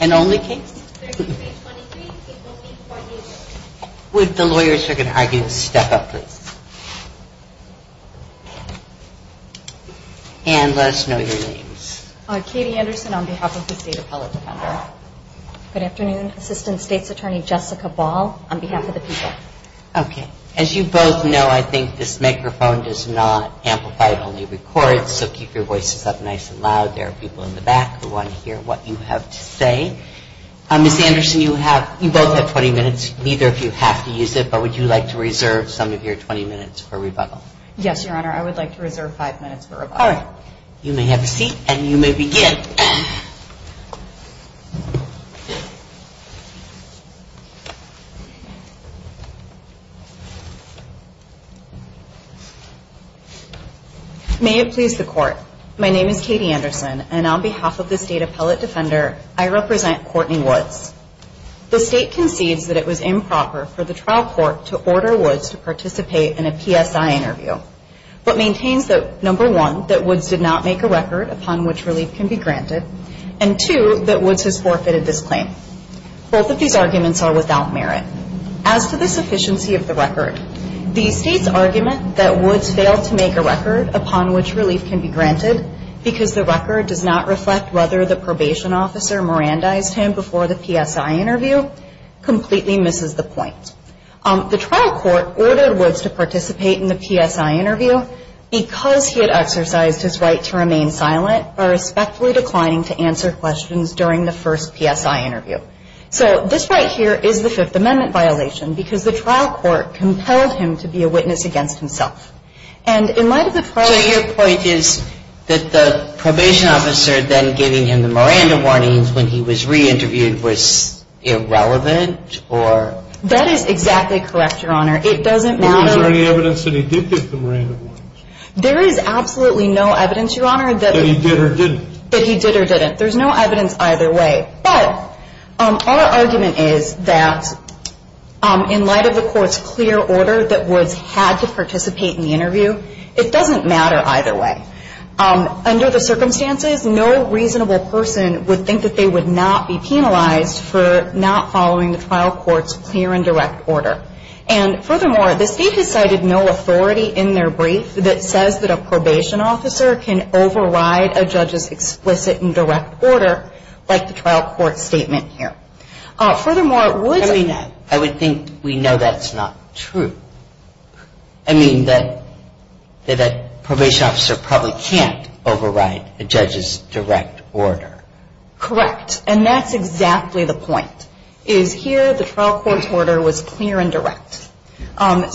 and only case. The lawyers are going to argue. Step up please. And let us know your names. Katie Anderson on behalf of the state appellate defender. Good afternoon. Assistant State's what you have to say. Ms. Anderson, you have, you both have 20 minutes, neither of you have to use it, but would you like to reserve some of your 20 minutes for rebuttal? Yes, Your Honor, I would like to reserve five minutes for rebuttal. All right. You may have a seat and you may begin. May it please the court. My name is Katie Anderson and on behalf of the state appellate defender, I would like to The state concedes that it was improper for the trial court to order Woods to participate in a PSI interview, but maintains that number one that Woods did not make a record upon which relief can be granted and two that Woods has forfeited this claim. Both of these arguments are without merit. As to the sufficiency of the record, these states' argument that Woods failed to make a record upon which relief can be granted because the record does not reflect whether the probationary offence may be terminated does not support the state's claim. All the arguments are without merit. The trial court ordered Woods to participate in the PSI interview because he had exercised his right to remain silent or respectfully declining to answer questions during the first PSI interview. So this right here is the Fifth Amendment violation because the trial court compelled him to be a witness against himself. So your point is that the probation officer then giving him the Miranda warnings when he was re-interviewed was irrelevant? That is exactly correct, Your Honor. Was there any evidence that he did get the Miranda warnings? There is absolutely no evidence, Your Honor, that he did or didn't. There is no evidence either way. But our argument is that in light of the court's clear order that Woods had to participate in the interview, it doesn't matter either way. Under the circumstances, no reasonable person would think that they would not be penalized for not following the trial court's clear and direct order. And furthermore, the state has cited no authority in their brief that says that a probation officer can override a judge's explicit and direct order like the trial court statement here. Furthermore, Woods… I mean, I would think we know that's not true. I mean, that a probation officer probably can't override a judge's direct order. Correct. And that's exactly the point, is here the trial court's order was clear and direct. But, of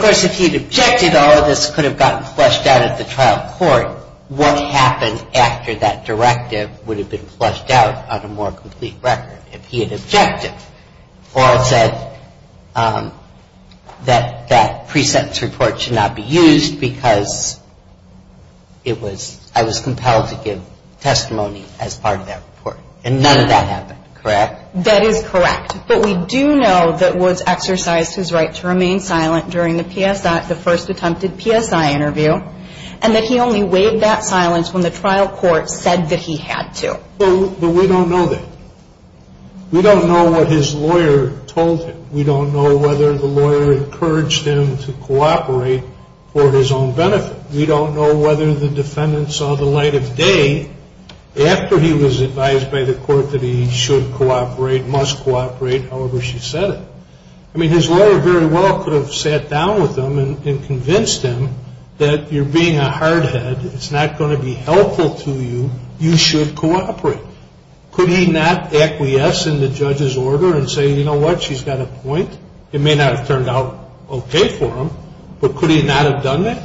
course, if he had objected, all of this could have gotten flushed out at the trial court. What happened after that directive would have been flushed out on a more complete record if he had objected? Or said that that pre-sentence report should not be used because I was compelled to give testimony as part of that report. And none of that happened, correct? That is correct. But we do know that Woods exercised his right to remain silent during the first attempted PSI interview and that he only waived that silence when the trial court said that he had to. But we don't know that. We don't know what his lawyer told him. We don't know whether the lawyer encouraged him to cooperate for his own benefit. We don't know whether the defendant saw the light of day after he was advised by the court that he should cooperate, must cooperate, however she said it. I mean, his lawyer very well could have sat down with him and convinced him that you're being a hard head, it's not going to be helpful to you, you should cooperate. Could he not acquiesce in the judge's order and say, you know what, she's got a point? It may not have turned out okay for him, but could he not have done that?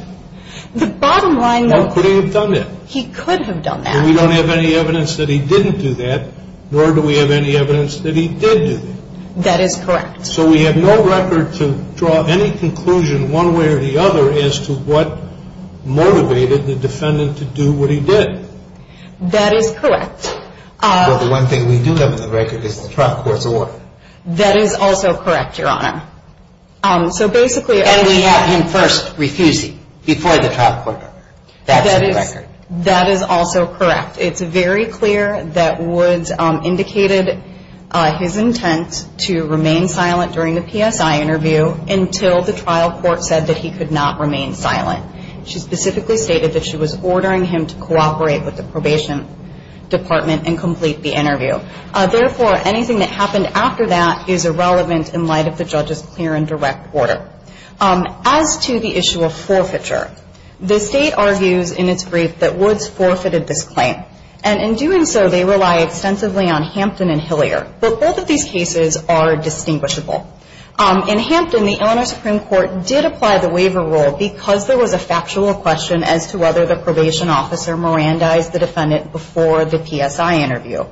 The bottom line, though. Or could he have done that? He could have done that. And we don't have any evidence that he didn't do that, nor do we have any evidence that he did do that. That is correct. So we have no record to draw any conclusion one way or the other as to what motivated the defendant to do what he did. That is correct. Well, the one thing we do have on the record is the trial court's order. That is also correct, Your Honor. So basically... And we have him first refusing before the trial court. That's the record. That is also correct. It's very clear that Woods indicated his intent to remain silent during the PSI interview until the trial court said that he could not remain silent. She specifically stated that she was ordering him to cooperate with the probation department and complete the interview. Therefore, anything that happened after that is irrelevant in light of the judge's clear and direct order. As to the issue of forfeiture, the State argues in its brief that Woods forfeited this claim. And in doing so, they rely extensively on Hampton and Hillier. But both of these cases are distinguishable. In Hampton, the Illinois Supreme Court did apply the waiver rule because there was a factual question as to whether the probation officer Mirandized the defendant before the PSI interview.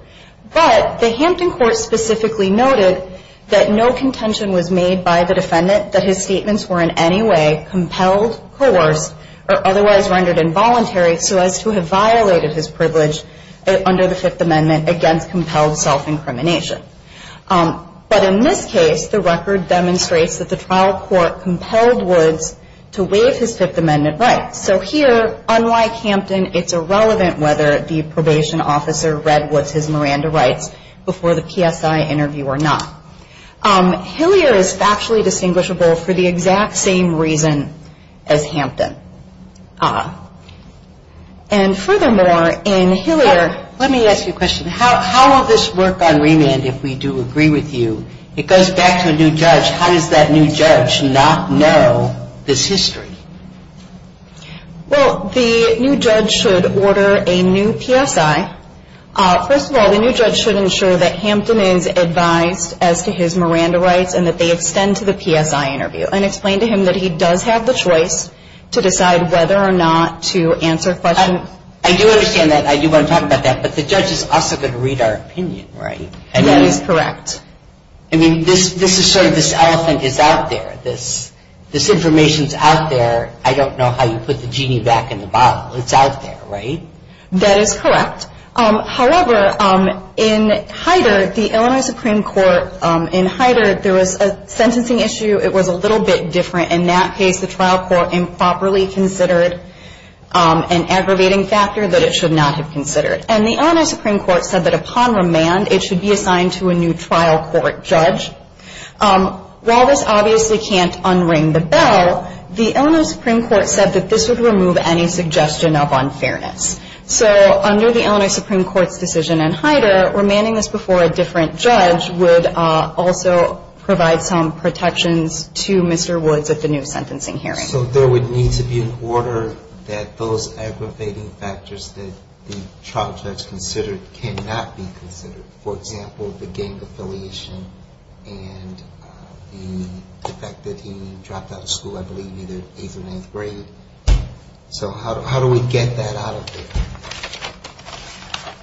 But the Hampton court specifically noted that no contention was made by the defendant that his statements were in any way compelled, coerced, or otherwise rendered involuntary so as to have violated his privilege under the Fifth Amendment against compelled self-incrimination. But in this case, the record demonstrates that the trial court compelled Woods to waive his Fifth Amendment rights. So here, unlike Hampton, it's irrelevant whether the probation officer read Woods' Miranda rights before the PSI interview or not. Hillier is factually distinguishable for the exact same reason as Hampton. And furthermore, in Hillier... Let me ask you a question. How will this work on remand if we do agree with you? It goes back to a new judge. How does that new judge not know this history? Well, the new judge should order a new PSI. First of all, the new judge should ensure that Hampton is advised as to his Miranda rights and that they extend to the PSI interview and explain to him that he does have the choice to decide whether or not to answer questions. I do understand that. I do want to talk about that. But the judge is also going to read our opinion, right? That is correct. I mean, this is sort of this elephant is out there. This information is out there. I don't know how you put the genie back in the bottle. It's out there, right? That is correct. However, in Hyder, the Illinois Supreme Court in Hyder, there was a sentencing issue. It was a little bit different. In that case, the trial court improperly considered an aggravating factor that it should not have considered. And the Illinois Supreme Court said that upon remand, it should be assigned to a new trial court judge. While this obviously can't unring the bell, the Illinois Supreme Court said that this would remove any suggestion of unfairness. So under the Illinois Supreme Court's decision in Hyder, remanding this before a different judge would also provide some protections to Mr. Woods at the new sentencing hearing. So there would need to be an order that those aggravating factors that the trial judge considered cannot be considered. For example, the gang affiliation and the fact that he dropped out of school, I believe, either eighth or ninth grade. So how do we get that out of there?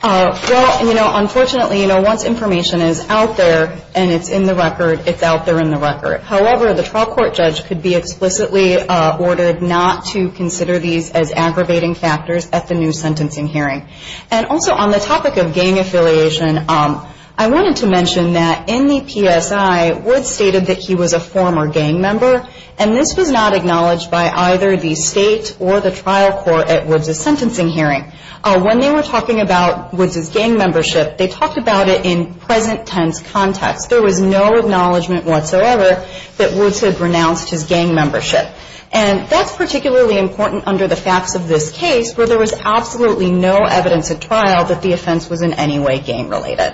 Well, you know, unfortunately, you know, once information is out there and it's in the record, it's out there in the record. However, the trial court judge could be explicitly ordered not to consider these as aggravating factors at the new sentencing hearing. And also on the topic of gang affiliation, I wanted to mention that in the PSI, Woods stated that he was a former gang member. And this was not acknowledged by either the state or the trial court at Woods' sentencing hearing. When they were talking about Woods' gang membership, they talked about it in present tense context. There was no acknowledgement whatsoever that Woods had renounced his gang membership. And that's particularly important under the facts of this case, where there was absolutely no evidence at trial that the offense was in any way gang related.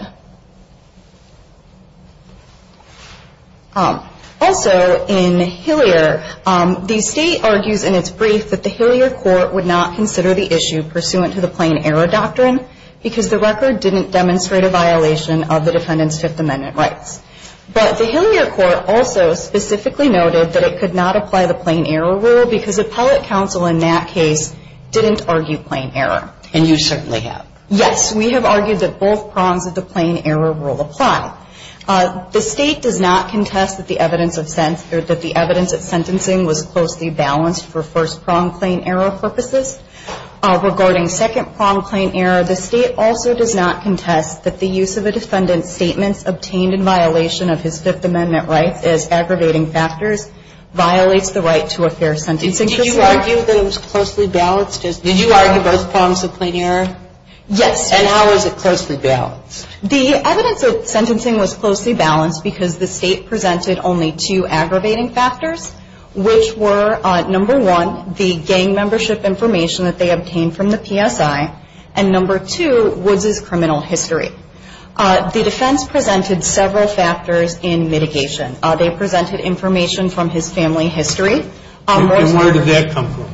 Also, in Hillier, the state argues in its brief that the Hillier court would not consider the issue pursuant to the plain error doctrine, because the record didn't demonstrate a violation of the defendant's Fifth Amendment rights. But the Hillier court also specifically noted that it could not apply the plain error rule, because appellate counsel in that case didn't argue plain error. And you certainly have. Yes, we have argued that both prongs of the plain error rule apply. The state does not contest that the evidence at sentencing was closely balanced for first prong plain error purposes. Regarding second prong plain error, the state also does not contest that the use of a defendant's statements obtained in violation of his Fifth Amendment rights as aggravating factors violates the right to a fair sentence. Did you argue that it was closely balanced? Did you argue both prongs of plain error? Yes. And how was it closely balanced? The evidence at sentencing was closely balanced because the state presented only two aggravating factors, which were number one, the gang membership information that they obtained from the PSI, and number two, Woods' criminal history. The defense presented several factors in mitigation. They presented information from his family history. And where did that come from?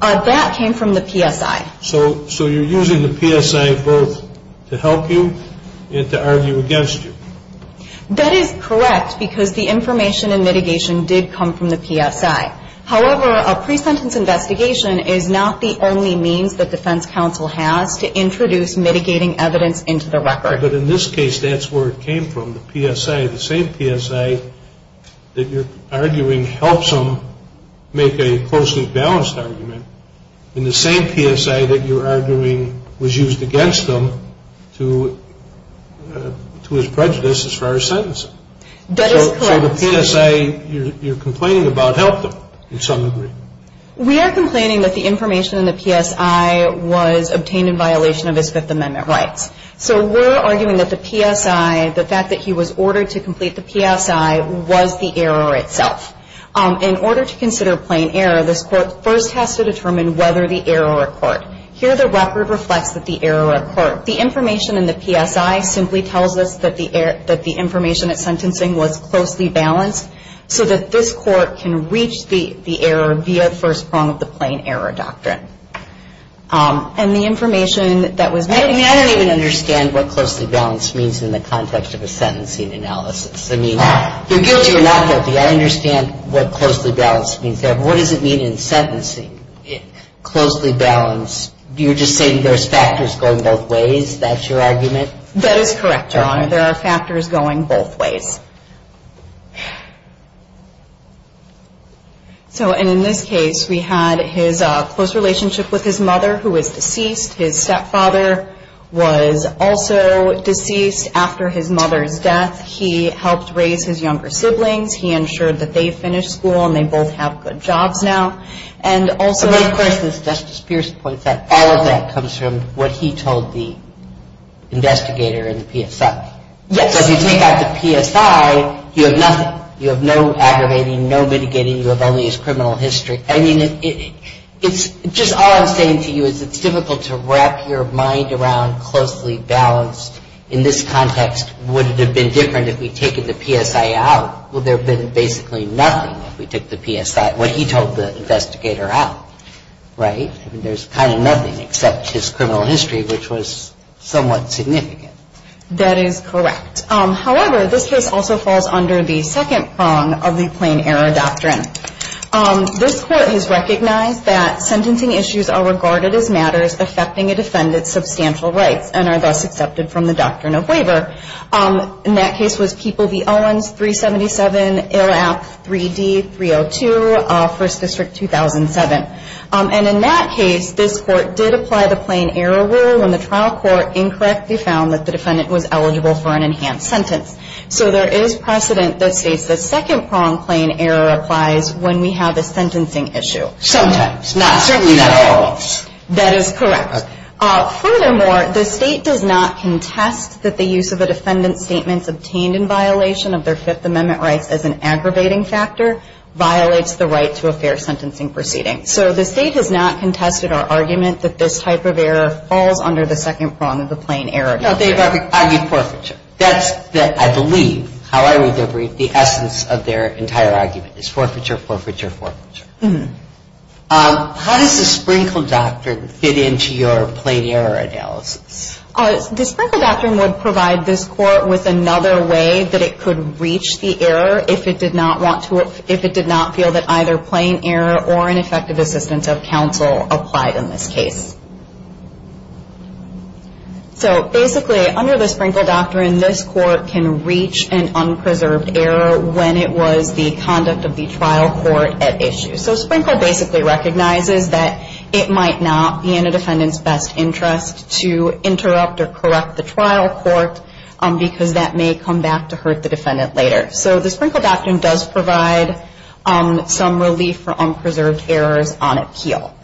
That came from the PSI. So you're using the PSI both to help you and to argue against you. That is correct because the information in mitigation did come from the PSI. However, a pre-sentence investigation is not the only means that defense counsel has to introduce mitigating evidence into the record. But in this case, that's where it came from. The PSI, the same PSI that you're arguing helps them make a closely balanced argument. And the same PSI that you're arguing was used against them to his prejudice as far as sentencing. That is correct. So the PSI you're complaining about helped them in some degree. We are complaining that the information in the PSI was obtained in violation of his Fifth Amendment rights. So we're arguing that the PSI, the fact that he was ordered to complete the PSI, was the error itself. In order to consider plain error, this court first has to determine whether the error occurred. Here, the record reflects that the error occurred. The information in the PSI simply tells us that the information at sentencing was closely balanced so that this court can reach the error via first prong of the plain error doctrine. And the information that was made... I don't even understand what closely balanced means in the context of a sentencing analysis. I mean, you're guilty or not guilty. I understand what closely balanced means there, but what does it mean in sentencing? Closely balanced, you're just saying there's factors going both ways? That's your argument? That is correct, Your Honor. There are factors going both ways. So in this case, we had his close relationship with his mother who was deceased. His stepfather was also deceased after his mother's death. He helped raise his younger siblings. He ensured that they finished school and they both have good jobs now. And also... But of course, as Justice Pierce points out, all of that comes from what he told the investigator in the PSI. Yes. So if you take out the PSI, you have nothing. You have no aggravating, no mitigating. You have only his criminal history. I mean, just all I'm saying to you is it's difficult to wrap your mind around closely balanced. In this context, would it have been different if we'd taken the PSI out? Well, there would have been basically nothing if we took the PSI, what he told the investigator out. Right? I mean, there's kind of nothing except his criminal history, which was somewhat significant. That is correct. However, this case also falls under the second prong of the plain error doctrine. This Court has recognized that sentencing issues are regarded as matters affecting a defendant's substantial rights and are thus accepted from the doctrine of waiver. And that case was People v. Owens, 377 AILAP 3D 302, 1st District, 2007. And in that case, this Court did apply the plain error rule when the trial court incorrectly found that the defendant was eligible for an enhanced sentence. So there is precedent that states the second prong plain error applies when we have a sentencing issue. Sometimes. Certainly not always. That is correct. Furthermore, the state does not contest that the use of a defendant's statements obtained in violation of their Fifth Amendment rights as an aggravating factor violates the right to a fair sentencing proceeding. So the state has not contested our argument that this type of error falls under the second prong of the plain error doctrine. No, they've argued forfeiture. That's, I believe, how I read their brief, the essence of their entire argument is forfeiture, forfeiture, forfeiture. How does the Sprinkle Doctrine fit into your plain error analysis? The Sprinkle Doctrine would provide this Court with another way that it could reach the error if it did not want to, if it did not feel that either plain error or an effective assistance of counsel applied in this case. So basically, under the Sprinkle Doctrine, this Court can reach an unpreserved error when it was the conduct of the trial court at issue. So Sprinkle basically recognizes that it might not be in a defendant's best interest to interrupt or correct the trial court because that may come back to hurt the defendant later. So the Sprinkle Doctrine does provide some relief for unpreserved errors on appeal.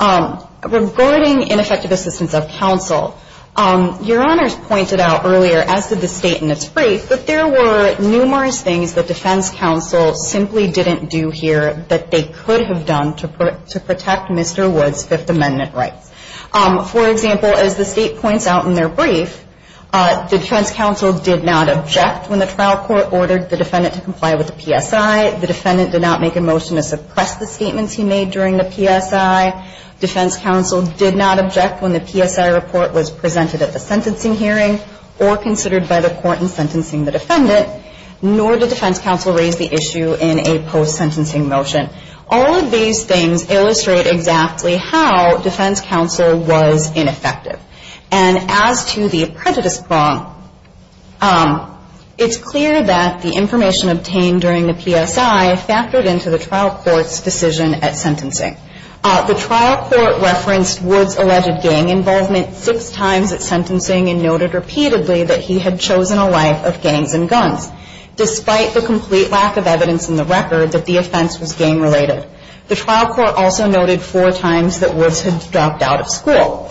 Regarding ineffective assistance of counsel, Your Honors pointed out earlier, as did the state in its brief, that there were numerous things that defense counsel simply didn't do here that they could have done to protect Mr. Wood's Fifth Amendment rights. For example, as the state points out in their brief, the defense counsel did not object when the trial court ordered the defendant to comply with the PSI. The defendant did not make a motion to suppress the statements he made during the PSI. Defense counsel did not object when the PSI report was presented at the sentencing hearing or considered by the court in sentencing the defendant. Nor did defense counsel raise the issue in a post-sentencing motion. All of these things illustrate exactly how defense counsel was ineffective. And as to the apprentice prong, it's clear that the information obtained during the PSI factored into the trial court's decision at sentencing. The trial court referenced Wood's alleged gang involvement six times at sentencing and noted repeatedly that he had chosen a life of gangs and guns, despite the complete lack of evidence in the record that the offense was gang-related. The trial court also noted four times that Wood's had dropped out of school.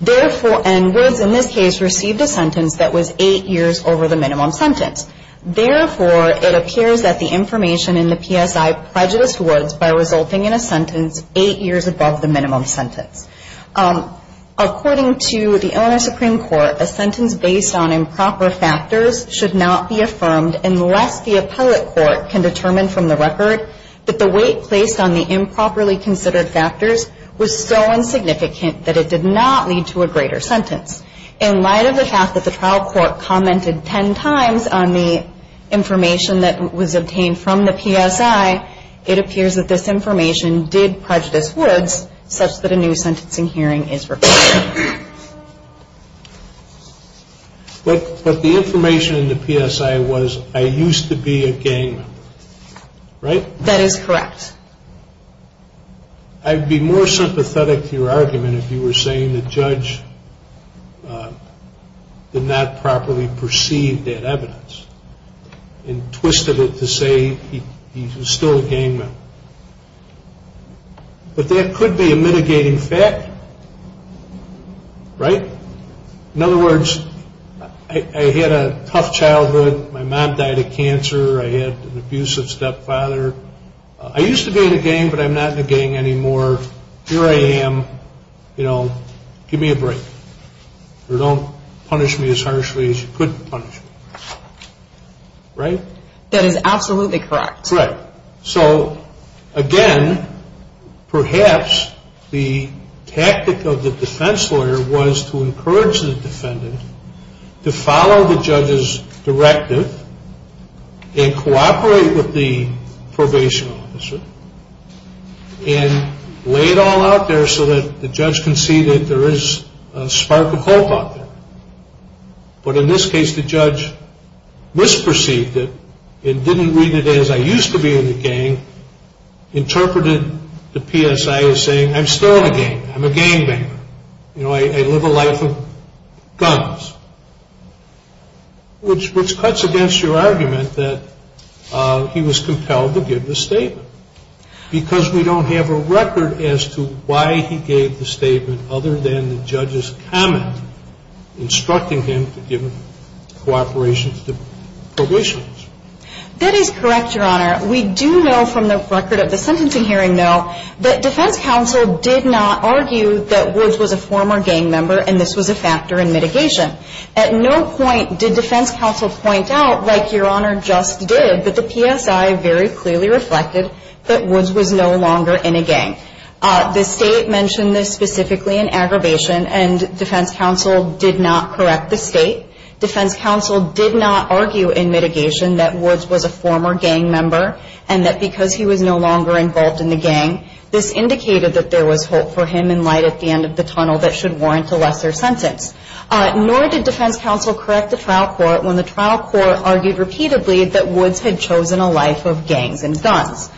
And Wood's, in this case, received a sentence that was eight years over the minimum sentence. Therefore, it appears that the information in the PSI prejudiced Wood's by resulting in a sentence eight years above the minimum sentence. According to the Illinois Supreme Court, a sentence based on improper factors should not be affirmed unless the appellate court can determine from the record that the weight placed on the improperly considered factors was so insignificant that it did not lead to a greater sentence. In light of the fact that the trial court commented ten times on the information that was obtained from the PSI, it appears that this information did prejudice Wood's such that a new sentencing hearing is required. But the information in the PSI was, I used to be a gang member, right? That is correct. I'd be more sympathetic to your argument if you were saying the judge did not properly perceive that evidence and twisted it to say he was still a gang member. But that could be a mitigating fact, right? In other words, I had a tough childhood. My mom died of cancer. I had an abusive stepfather. I used to be in a gang, but I'm not in a gang anymore. Here I am. You know, give me a break. Or don't punish me as harshly as you could punish me. Right? That is absolutely correct. Right. So, again, perhaps the tactic of the defense lawyer was to encourage the defendant to follow the judge's directive and cooperate with the probation officer and lay it all out there so that the judge can see that there is a spark of hope out there. But in this case, the judge misperceived it and didn't read it as I used to be in a gang, interpreted the PSI as saying I'm still in a gang. I'm a gang member. You know, I live a life of guns. Which cuts against your argument that he was compelled to give the statement because we don't have a record as to why he gave the statement other than the judge's comment instructing him to give cooperation to probation. That is correct, Your Honor. We do know from the record of the sentencing hearing, though, that defense counsel did not argue that Woods was a former gang member and this was a factor in mitigation. At no point did defense counsel point out, like Your Honor just did, that the PSI very clearly reflected that Woods was no longer in a gang. The state mentioned this specifically in aggravation and defense counsel did not correct the state. Defense counsel did not argue in mitigation that Woods was a former gang member and that because he was no longer involved in the gang, this indicated that there was hope for him in light at the end of the tunnel that should warrant a lesser sentence. Nor did defense counsel correct the trial court when the trial court argued repeatedly that Woods had chosen a life of gangs and guns.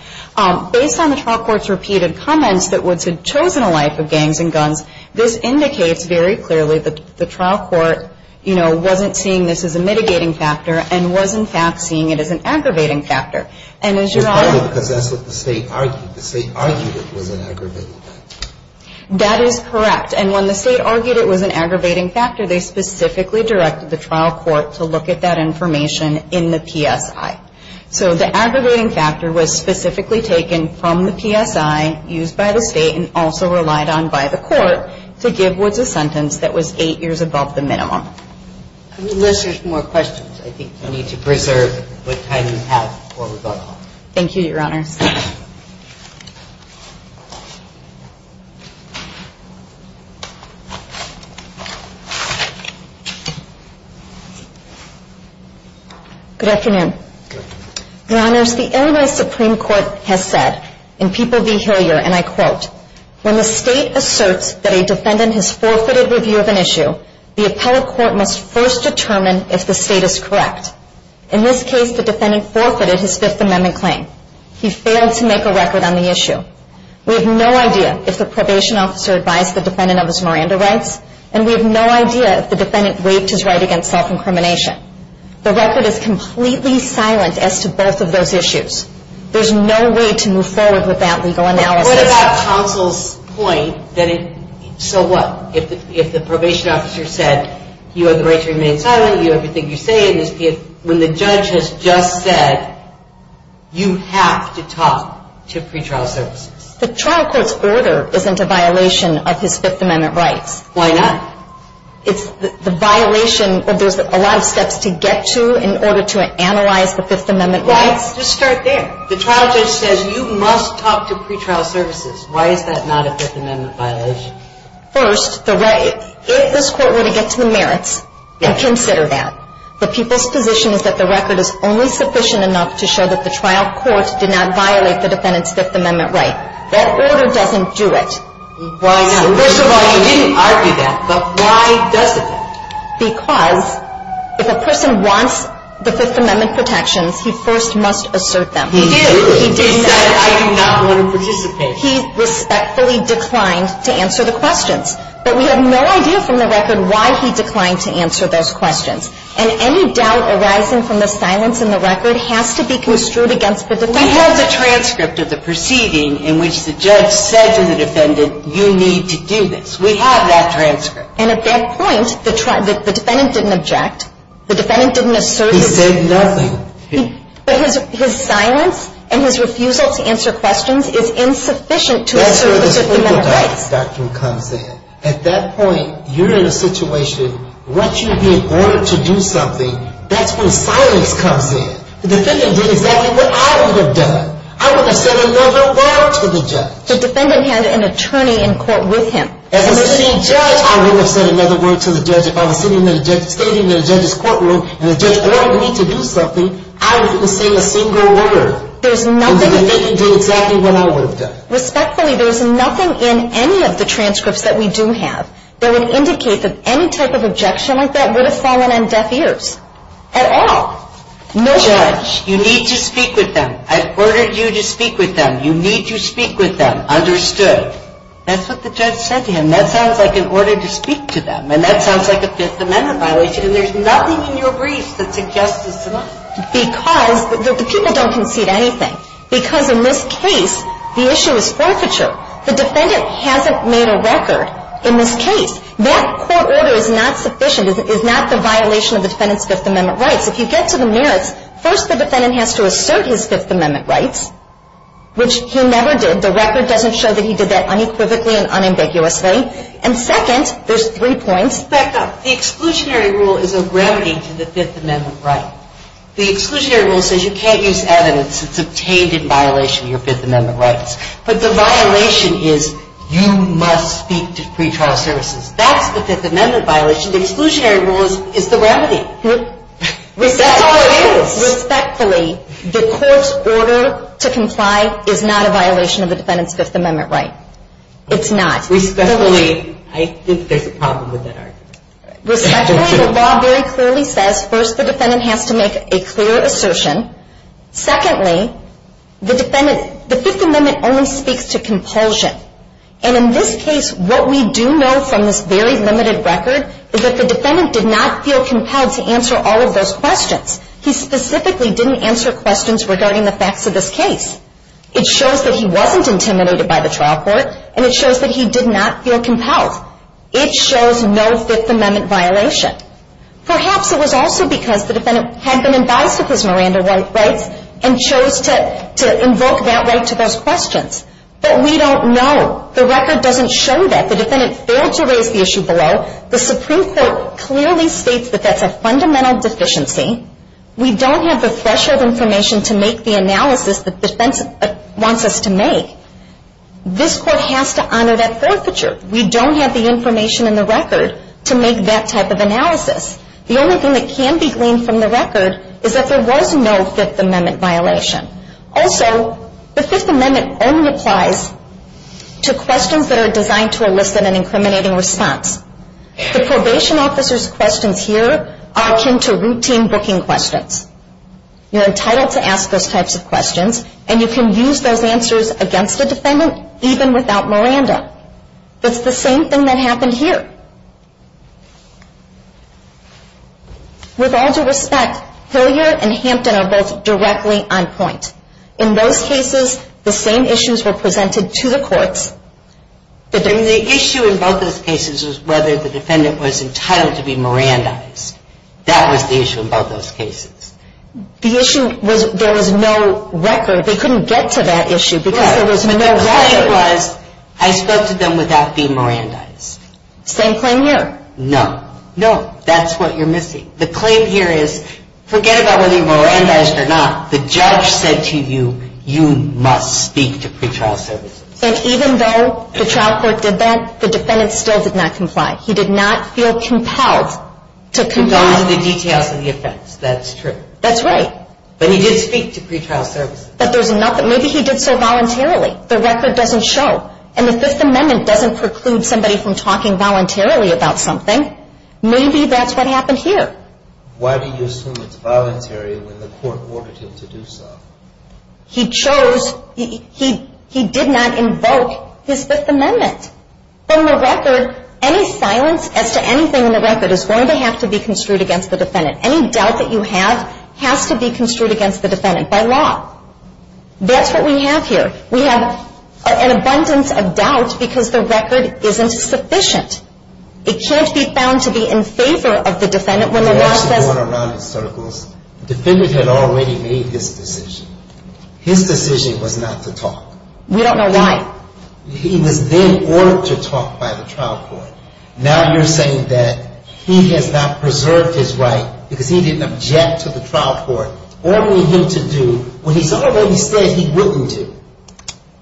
Based on the trial court's repeated comments that Woods had chosen a life of gangs and guns, this indicates very clearly that the trial court, you know, wasn't seeing this as a mitigating factor and was, in fact, seeing it as an aggravating factor. And as Your Honor – It's partly because that's what the state argued. The state argued it was an aggravating factor. That is correct. And when the state argued it was an aggravating factor, they specifically directed the trial court to look at that information in the PSI. So the aggravating factor was specifically taken from the PSI used by the state and also relied on by the court to give Woods a sentence that was eight years above the minimum. Unless there's more questions, I think you need to preserve what time you have for rebuttal. Thank you, Your Honor. Good afternoon. Good afternoon. Your Honors, the Illinois Supreme Court has said in People v. Hilliard, and I quote, when the state asserts that a defendant has forfeited review of an issue, the appellate court must first determine if the state is correct. In this case, the defendant forfeited his Fifth Amendment claim. He failed to review his Fifth Amendment claim. He failed to make a record on the issue. We have no idea if the probation officer advised the defendant of his Miranda rights, and we have no idea if the defendant waived his right against self-incrimination. The record is completely silent as to both of those issues. There's no way to move forward with that legal analysis. But what about counsel's point that it, so what, if the probation officer said, you have the right to remain silent, you have everything you say, when the judge has just said, you have to talk to pretrial services? The trial court's order isn't a violation of his Fifth Amendment rights. Why not? It's the violation of, there's a lot of steps to get to in order to analyze the Fifth Amendment rights. Well, let's just start there. The trial judge says you must talk to pretrial services. Why is that not a Fifth Amendment violation? First, if this court were to get to the merits and consider that, the people's position is that the record is only sufficient enough to show that the trial court did not violate the defendant's Fifth Amendment right. That order doesn't do it. Why not? First of all, you didn't argue that, but why doesn't it? Because if a person wants the Fifth Amendment protections, he first must assert them. He did. He did. He said, I do not want to participate. He respectfully declined to answer the questions. But we have no idea from the record why he declined to answer those questions. And any doubt arising from the silence in the record has to be construed against the defendant. We have the transcript of the proceeding in which the judge said to the defendant, you need to do this. We have that transcript. And at that point, the defendant didn't object. The defendant didn't assert anything. He said nothing. But his silence and his refusal to answer questions is insufficient to assert the Fifth Amendment rights. That's where this legal doctrine comes in. At that point, you're in a situation, once you've been ordered to do something, that's when silence comes in. The defendant did exactly what I would have done. I would have said another word to the judge. The defendant had an attorney in court with him. As a sitting judge, I would have said another word to the judge. If I was sitting in the judge's courtroom and the judge ordered me to do something, I wouldn't have said a single word. There's nothing. And the defendant did exactly what I would have done. Respectfully, there's nothing in any of the transcripts that we do have that would indicate that any type of objection like that would have fallen on deaf ears. At all. No judge. You need to speak with them. I've ordered you to speak with them. You need to speak with them. Understood. That's what the judge said to him. That sounds like an order to speak to them. And that sounds like a Fifth Amendment violation. And there's nothing in your brief that suggests this to me. Because the people don't concede anything. Because in this case, the issue is forfeiture. The defendant hasn't made a record in this case. That court order is not sufficient. It is not the violation of the defendant's Fifth Amendment rights. If you get to the merits, first the defendant has to assert his Fifth Amendment rights, which he never did. The record doesn't show that he did that unequivocally and unambiguously. And second, there's three points. Back up. The exclusionary rule is a remedy to the Fifth Amendment right. The exclusionary rule says you can't use evidence that's obtained in violation of your Fifth Amendment rights. But the violation is you must speak to pretrial services. That's the Fifth Amendment violation. The exclusionary rule is the remedy. That's all it is. Respectfully, the court's order to comply is not a violation of the defendant's Fifth Amendment right. It's not. Respectfully, I think there's a problem with that argument. Respectfully, the law very clearly says first the defendant has to make a clear assertion. Secondly, the Fifth Amendment only speaks to compulsion. And in this case, what we do know from this very limited record is that the defendant did not feel compelled to answer all of those questions. He specifically didn't answer questions regarding the facts of this case. It shows that he wasn't intimidated by the trial court, and it shows that he did not feel compelled. It shows no Fifth Amendment violation. Perhaps it was also because the defendant had been advised of his Miranda rights and chose to invoke that right to those questions. But we don't know. The record doesn't show that. The defendant failed to raise the issue below. The Supreme Court clearly states that that's a fundamental deficiency. We don't have the threshold information to make the analysis that defense wants us to make. This court has to honor that forfeiture. We don't have the information in the record to make that type of analysis. The only thing that can be gleaned from the record is that there was no Fifth Amendment violation. Also, the Fifth Amendment only applies to questions that are designed to elicit an incriminating response. The probation officer's questions here are akin to routine booking questions. You're entitled to ask those types of questions, and you can use those answers against a defendant even without Miranda. It's the same thing that happened here. With all due respect, Hilliard and Hampton are both directly on point. In those cases, the same issues were presented to the courts. The issue in both those cases was whether the defendant was entitled to be Mirandized. That was the issue in both those cases. The issue was there was no record. They couldn't get to that issue because there was no record. The claim was I spoke to them without being Mirandized. Same claim here. No. No. That's what you're missing. The claim here is forget about whether you're Mirandized or not. The judge said to you, you must speak to pretrial services. And even though the trial court did that, the defendant still did not comply. He did not feel compelled to comply. To go into the details of the offense. That's true. That's right. But he did speak to pretrial services. But there's nothing. Maybe he did so voluntarily. The record doesn't show. And the Fifth Amendment doesn't preclude somebody from talking voluntarily about something. Maybe that's what happened here. Why do you assume it's voluntary when the court ordered him to do so? He chose. He did not invoke his Fifth Amendment. From the record, any silence as to anything in the record is going to have to be construed against the defendant. Any doubt that you have has to be construed against the defendant by law. That's what we have here. We have an abundance of doubt because the record isn't sufficient. It can't be found to be in favor of the defendant when the law says. The defendant had already made his decision. His decision was not to talk. We don't know why. He was then ordered to talk by the trial court. Now you're saying that he has not preserved his right because he didn't object to the trial court ordering him to do what he said he wouldn't do.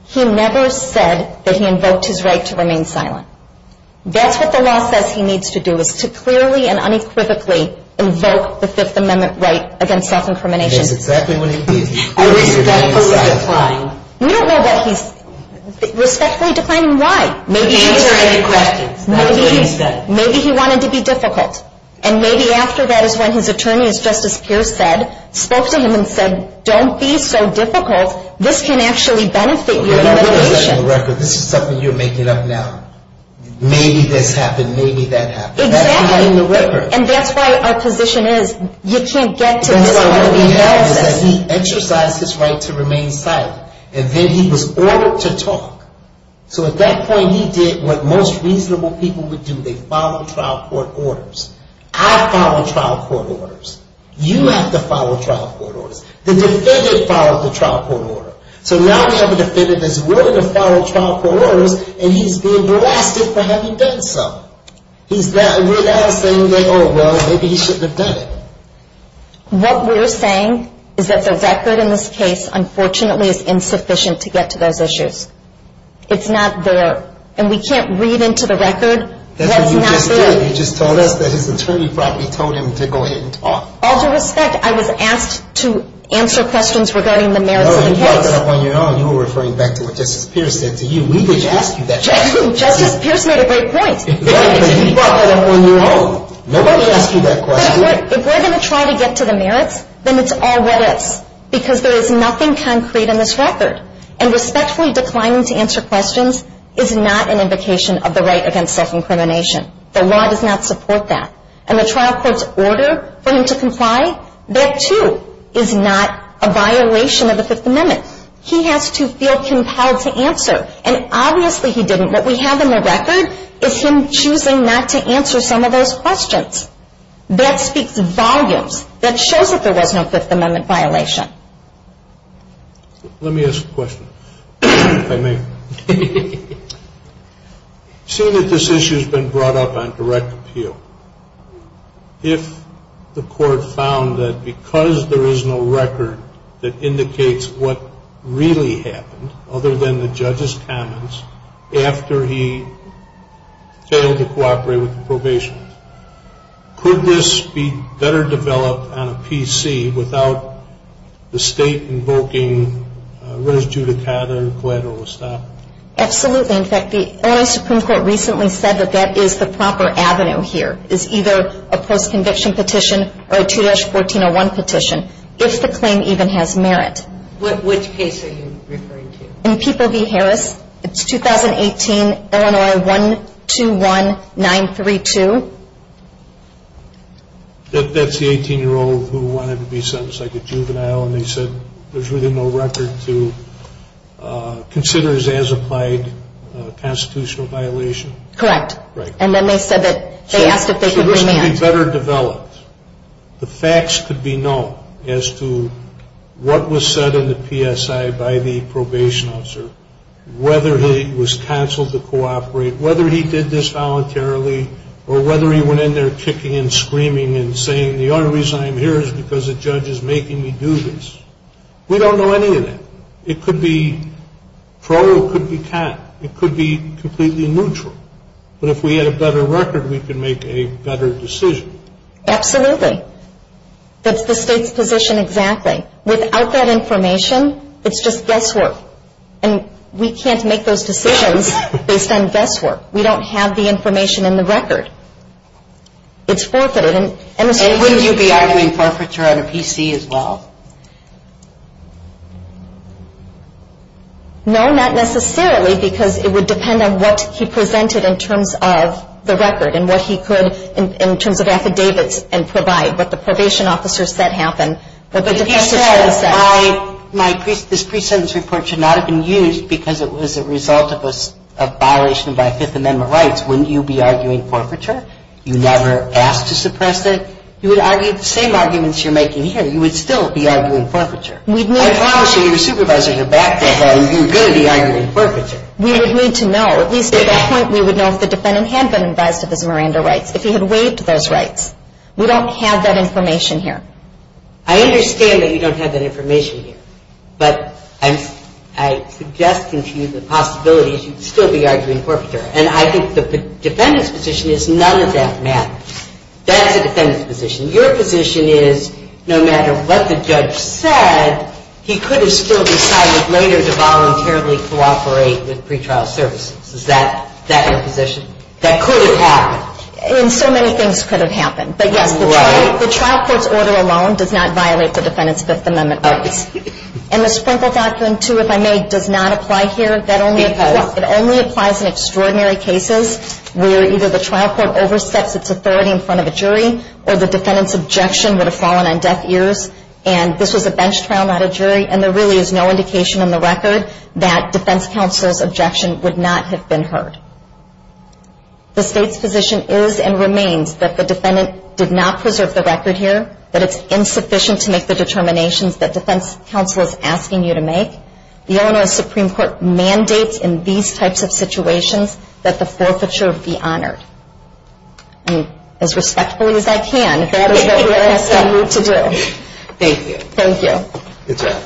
He never said that he invoked his right to remain silent. That's what the law says he needs to do is to clearly and unequivocally invoke the Fifth Amendment right against self-incrimination. That's exactly what he did. Respectfully declining. We don't know that he's respectfully declining. Why? Maybe he wanted to be difficult. And maybe after that is when his attorney, as Justice Pierce said, spoke to him and said, don't be so difficult. This can actually benefit your delineation. This is something you're making up now. Maybe this happened. Maybe that happened. Exactly. And that's why our position is you can't get to this point. He exercised his right to remain silent. And then he was ordered to talk. So at that point he did what most reasonable people would do. They follow trial court orders. I follow trial court orders. You have to follow trial court orders. The defendant followed the trial court order. So now we have a defendant that's willing to follow trial court orders and he's being blasted for having done so. We're now saying that, oh, well, maybe he shouldn't have done it. What we're saying is that the record in this case, unfortunately, is insufficient to get to those issues. It's not there. And we can't read into the record what's not there. That's what you just did. You just told us that his attorney probably told him to go ahead and talk. All due respect, I was asked to answer questions regarding the merits of the case. No, you were referring back to what Justice Pierce said to you. We didn't ask you that question. Justice Pierce made a great point. Nobody asked you that question. If we're going to try to get to the merits, then it's all what is because there is nothing concrete in this record. And respectfully declining to answer questions is not an invocation of the right against self-incrimination. The law does not support that. And the trial court's order for him to comply, that, too, is not a violation of the Fifth Amendment. He has to feel compelled to answer. And obviously he didn't. What we have in the record is him choosing not to answer some of those questions. That speaks volumes. That shows that there was no Fifth Amendment violation. Let me ask a question, if I may. Seeing that this issue has been brought up on direct appeal, if the court found that because there is no record that indicates what really happened, other than the judge's comments, after he failed to cooperate with the probationers, could this be better developed on a PC without the state invoking res judicata or collateral establishment? Absolutely. In fact, the Illinois Supreme Court recently said that that is the proper avenue here, is either a post-conviction petition or a 2-1401 petition, if the claim even has merit. Which case are you referring to? In People v. Harris. It's 2018, Illinois 121932. That's the 18-year-old who wanted to be sentenced like a juvenile, and they said there's really no record to consider as an applied constitutional violation? Correct. And then they said that they asked if they could remand. The facts could be known as to what was said in the PSI by the probation officer, whether he was counseled to cooperate, whether he did this voluntarily, or whether he went in there kicking and screaming and saying, the only reason I'm here is because the judge is making me do this. We don't know any of that. It could be pro or it could be con. It could be completely neutral. But if we had a better record, we could make a better decision. Absolutely. That's the State's position exactly. Without that information, it's just guesswork, and we can't make those decisions based on guesswork. We don't have the information in the record. It's forfeited. And wouldn't you be arguing forfeiture on a PC as well? No, not necessarily, because it would depend on what he presented in terms of the record and what he could in terms of affidavits and provide, what the probation officer said happened, what the defense attorney said. But he said this pre-sentence report should not have been used because it was a result of a violation by Fifth Amendment rights. Wouldn't you be arguing forfeiture? You never asked to suppress it. You would argue the same arguments you're making here. You would still be arguing forfeiture. I promise you your supervisors are back there, but you're going to be arguing forfeiture. We would need to know. At least at that point, we would know if the defendant had been advised of his Miranda rights, if he had waived those rights. We don't have that information here. I understand that you don't have that information here, but I'm suggesting to you the possibility that you'd still be arguing forfeiture. And I think the defendant's position is none of that matters. That's the defendant's position. Your position is no matter what the judge said, he could have still decided later to voluntarily cooperate with pretrial services. Is that your position? That could have happened. And so many things could have happened. But, yes, the trial court's order alone does not violate the defendant's Fifth Amendment rights. And the Sprinkle Doctrine, too, if I may, does not apply here. Because? It only applies in extraordinary cases where either the trial court oversteps its authority in front of a jury or the defendant's objection would have fallen on deaf ears. And this was a bench trial, not a jury. And there really is no indication in the record that defense counsel's objection would not have been heard. The state's position is and remains that the defendant did not preserve the record here, that it's insufficient to make the determinations that defense counsel is asking you to make. The Illinois Supreme Court mandates in these types of situations that the forfeiture be honored. And as respectfully as I can, that is what we ask you to do. Thank you. Thank you. Good job.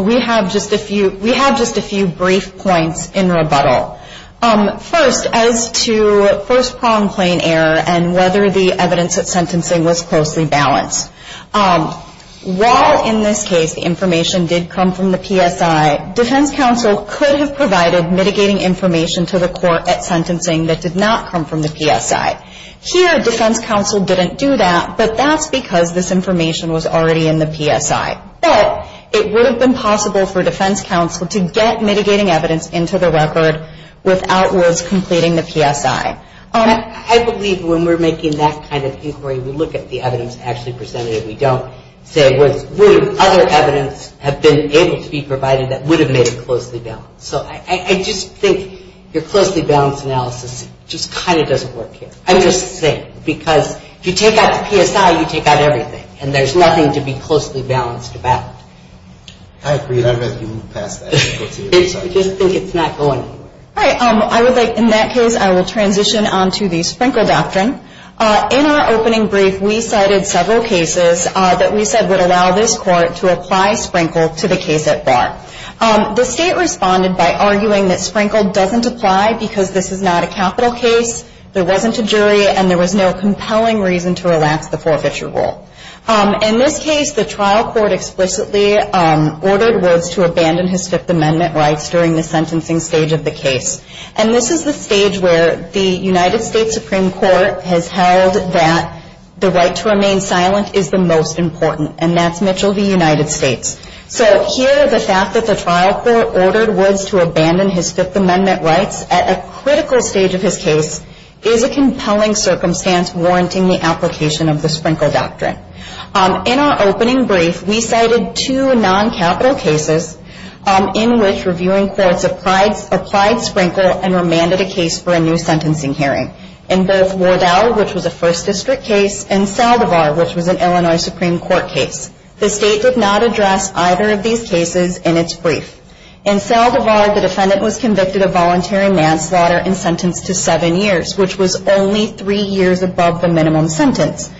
We have just a few brief points in rebuttal. First, as to first-pronged plain error and whether the evidence at sentencing was closely balanced. While in this case the information did come from the PSI, defense counsel could have provided mitigating information to the court at sentencing that did not come from the PSI. Here, defense counsel didn't do that, but that's because this information was already in the PSI. But it would have been possible for defense counsel to get mitigating evidence into the record without rules completing the PSI. I believe when we're making that kind of inquiry, we look at the evidence actually presented. We don't say would other evidence have been able to be provided that would have made it closely balanced. So I just think your closely balanced analysis just kind of doesn't work here. I'm just saying. Because if you take out the PSI, you take out everything. And there's nothing to be closely balanced about. I agree. I'd rather you move past that. I just think it's not going anywhere. All right. I would like, in that case, I will transition on to the Sprinkle Doctrine. In our opening brief, we cited several cases that we said would allow this court to apply Sprinkle to the case at bar. The state responded by arguing that Sprinkle doesn't apply because this is not a capital case, there wasn't a jury, and there was no compelling reason to relax the forfeiture rule. In this case, the trial court explicitly ordered Woods to abandon his Fifth Amendment rights during the sentencing stage of the case. And this is the stage where the United States Supreme Court has held that the right to remain silent is the most important, and that's Mitchell v. United States. So here, the fact that the trial court ordered Woods to abandon his Fifth Amendment rights at a critical stage of his case is a compelling circumstance warranting the application of the Sprinkle Doctrine. In our opening brief, we cited two non-capital cases in which reviewing courts applied Sprinkle and remanded a case for a new sentencing hearing in both Wardell, which was a First District case, and Saldivar, which was an Illinois Supreme Court case. The state did not address either of these cases in its brief. In Saldivar, the defendant was convicted of voluntary manslaughter and sentenced to seven years, which was only three years above the minimum sentence.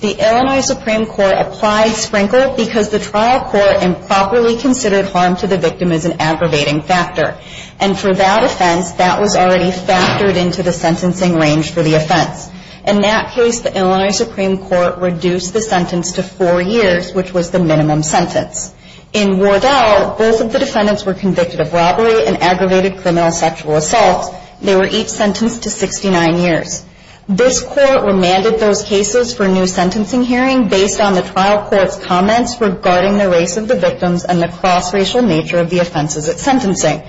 The Illinois Supreme Court applied Sprinkle because the trial court improperly considered harm to the victim as an aggravating factor. And for that offense, that was already factored into the sentencing range for the offense. In that case, the Illinois Supreme Court reduced the sentence to four years, which was the minimum sentence. In Wardell, both of the defendants were convicted of robbery and aggravated criminal sexual assault. They were each sentenced to 69 years. This court remanded those cases for a new sentencing hearing based on the trial court's comments regarding the race of the victims and the cross-racial nature of the offenses at sentencing.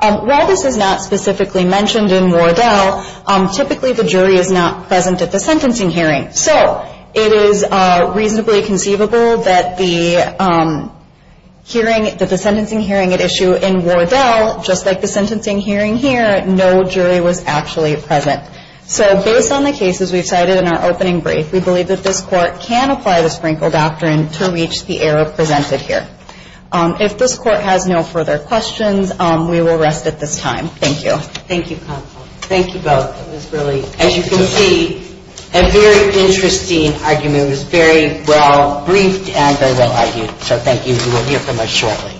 While this is not specifically mentioned in Wardell, typically the jury is not present at the sentencing hearing. So it is reasonably conceivable that the sentencing hearing at issue in Wardell, just like the sentencing hearing here, no jury was actually present. So based on the cases we've cited in our opening brief, we believe that this court can apply the Sprinkle Doctrine to reach the error presented here. If this court has no further questions, we will rest at this time. Thank you. Thank you, counsel. Thank you both. It was really, as you can see, a very interesting argument. It was very well briefed and very well argued. So thank you. We will hear from us shortly.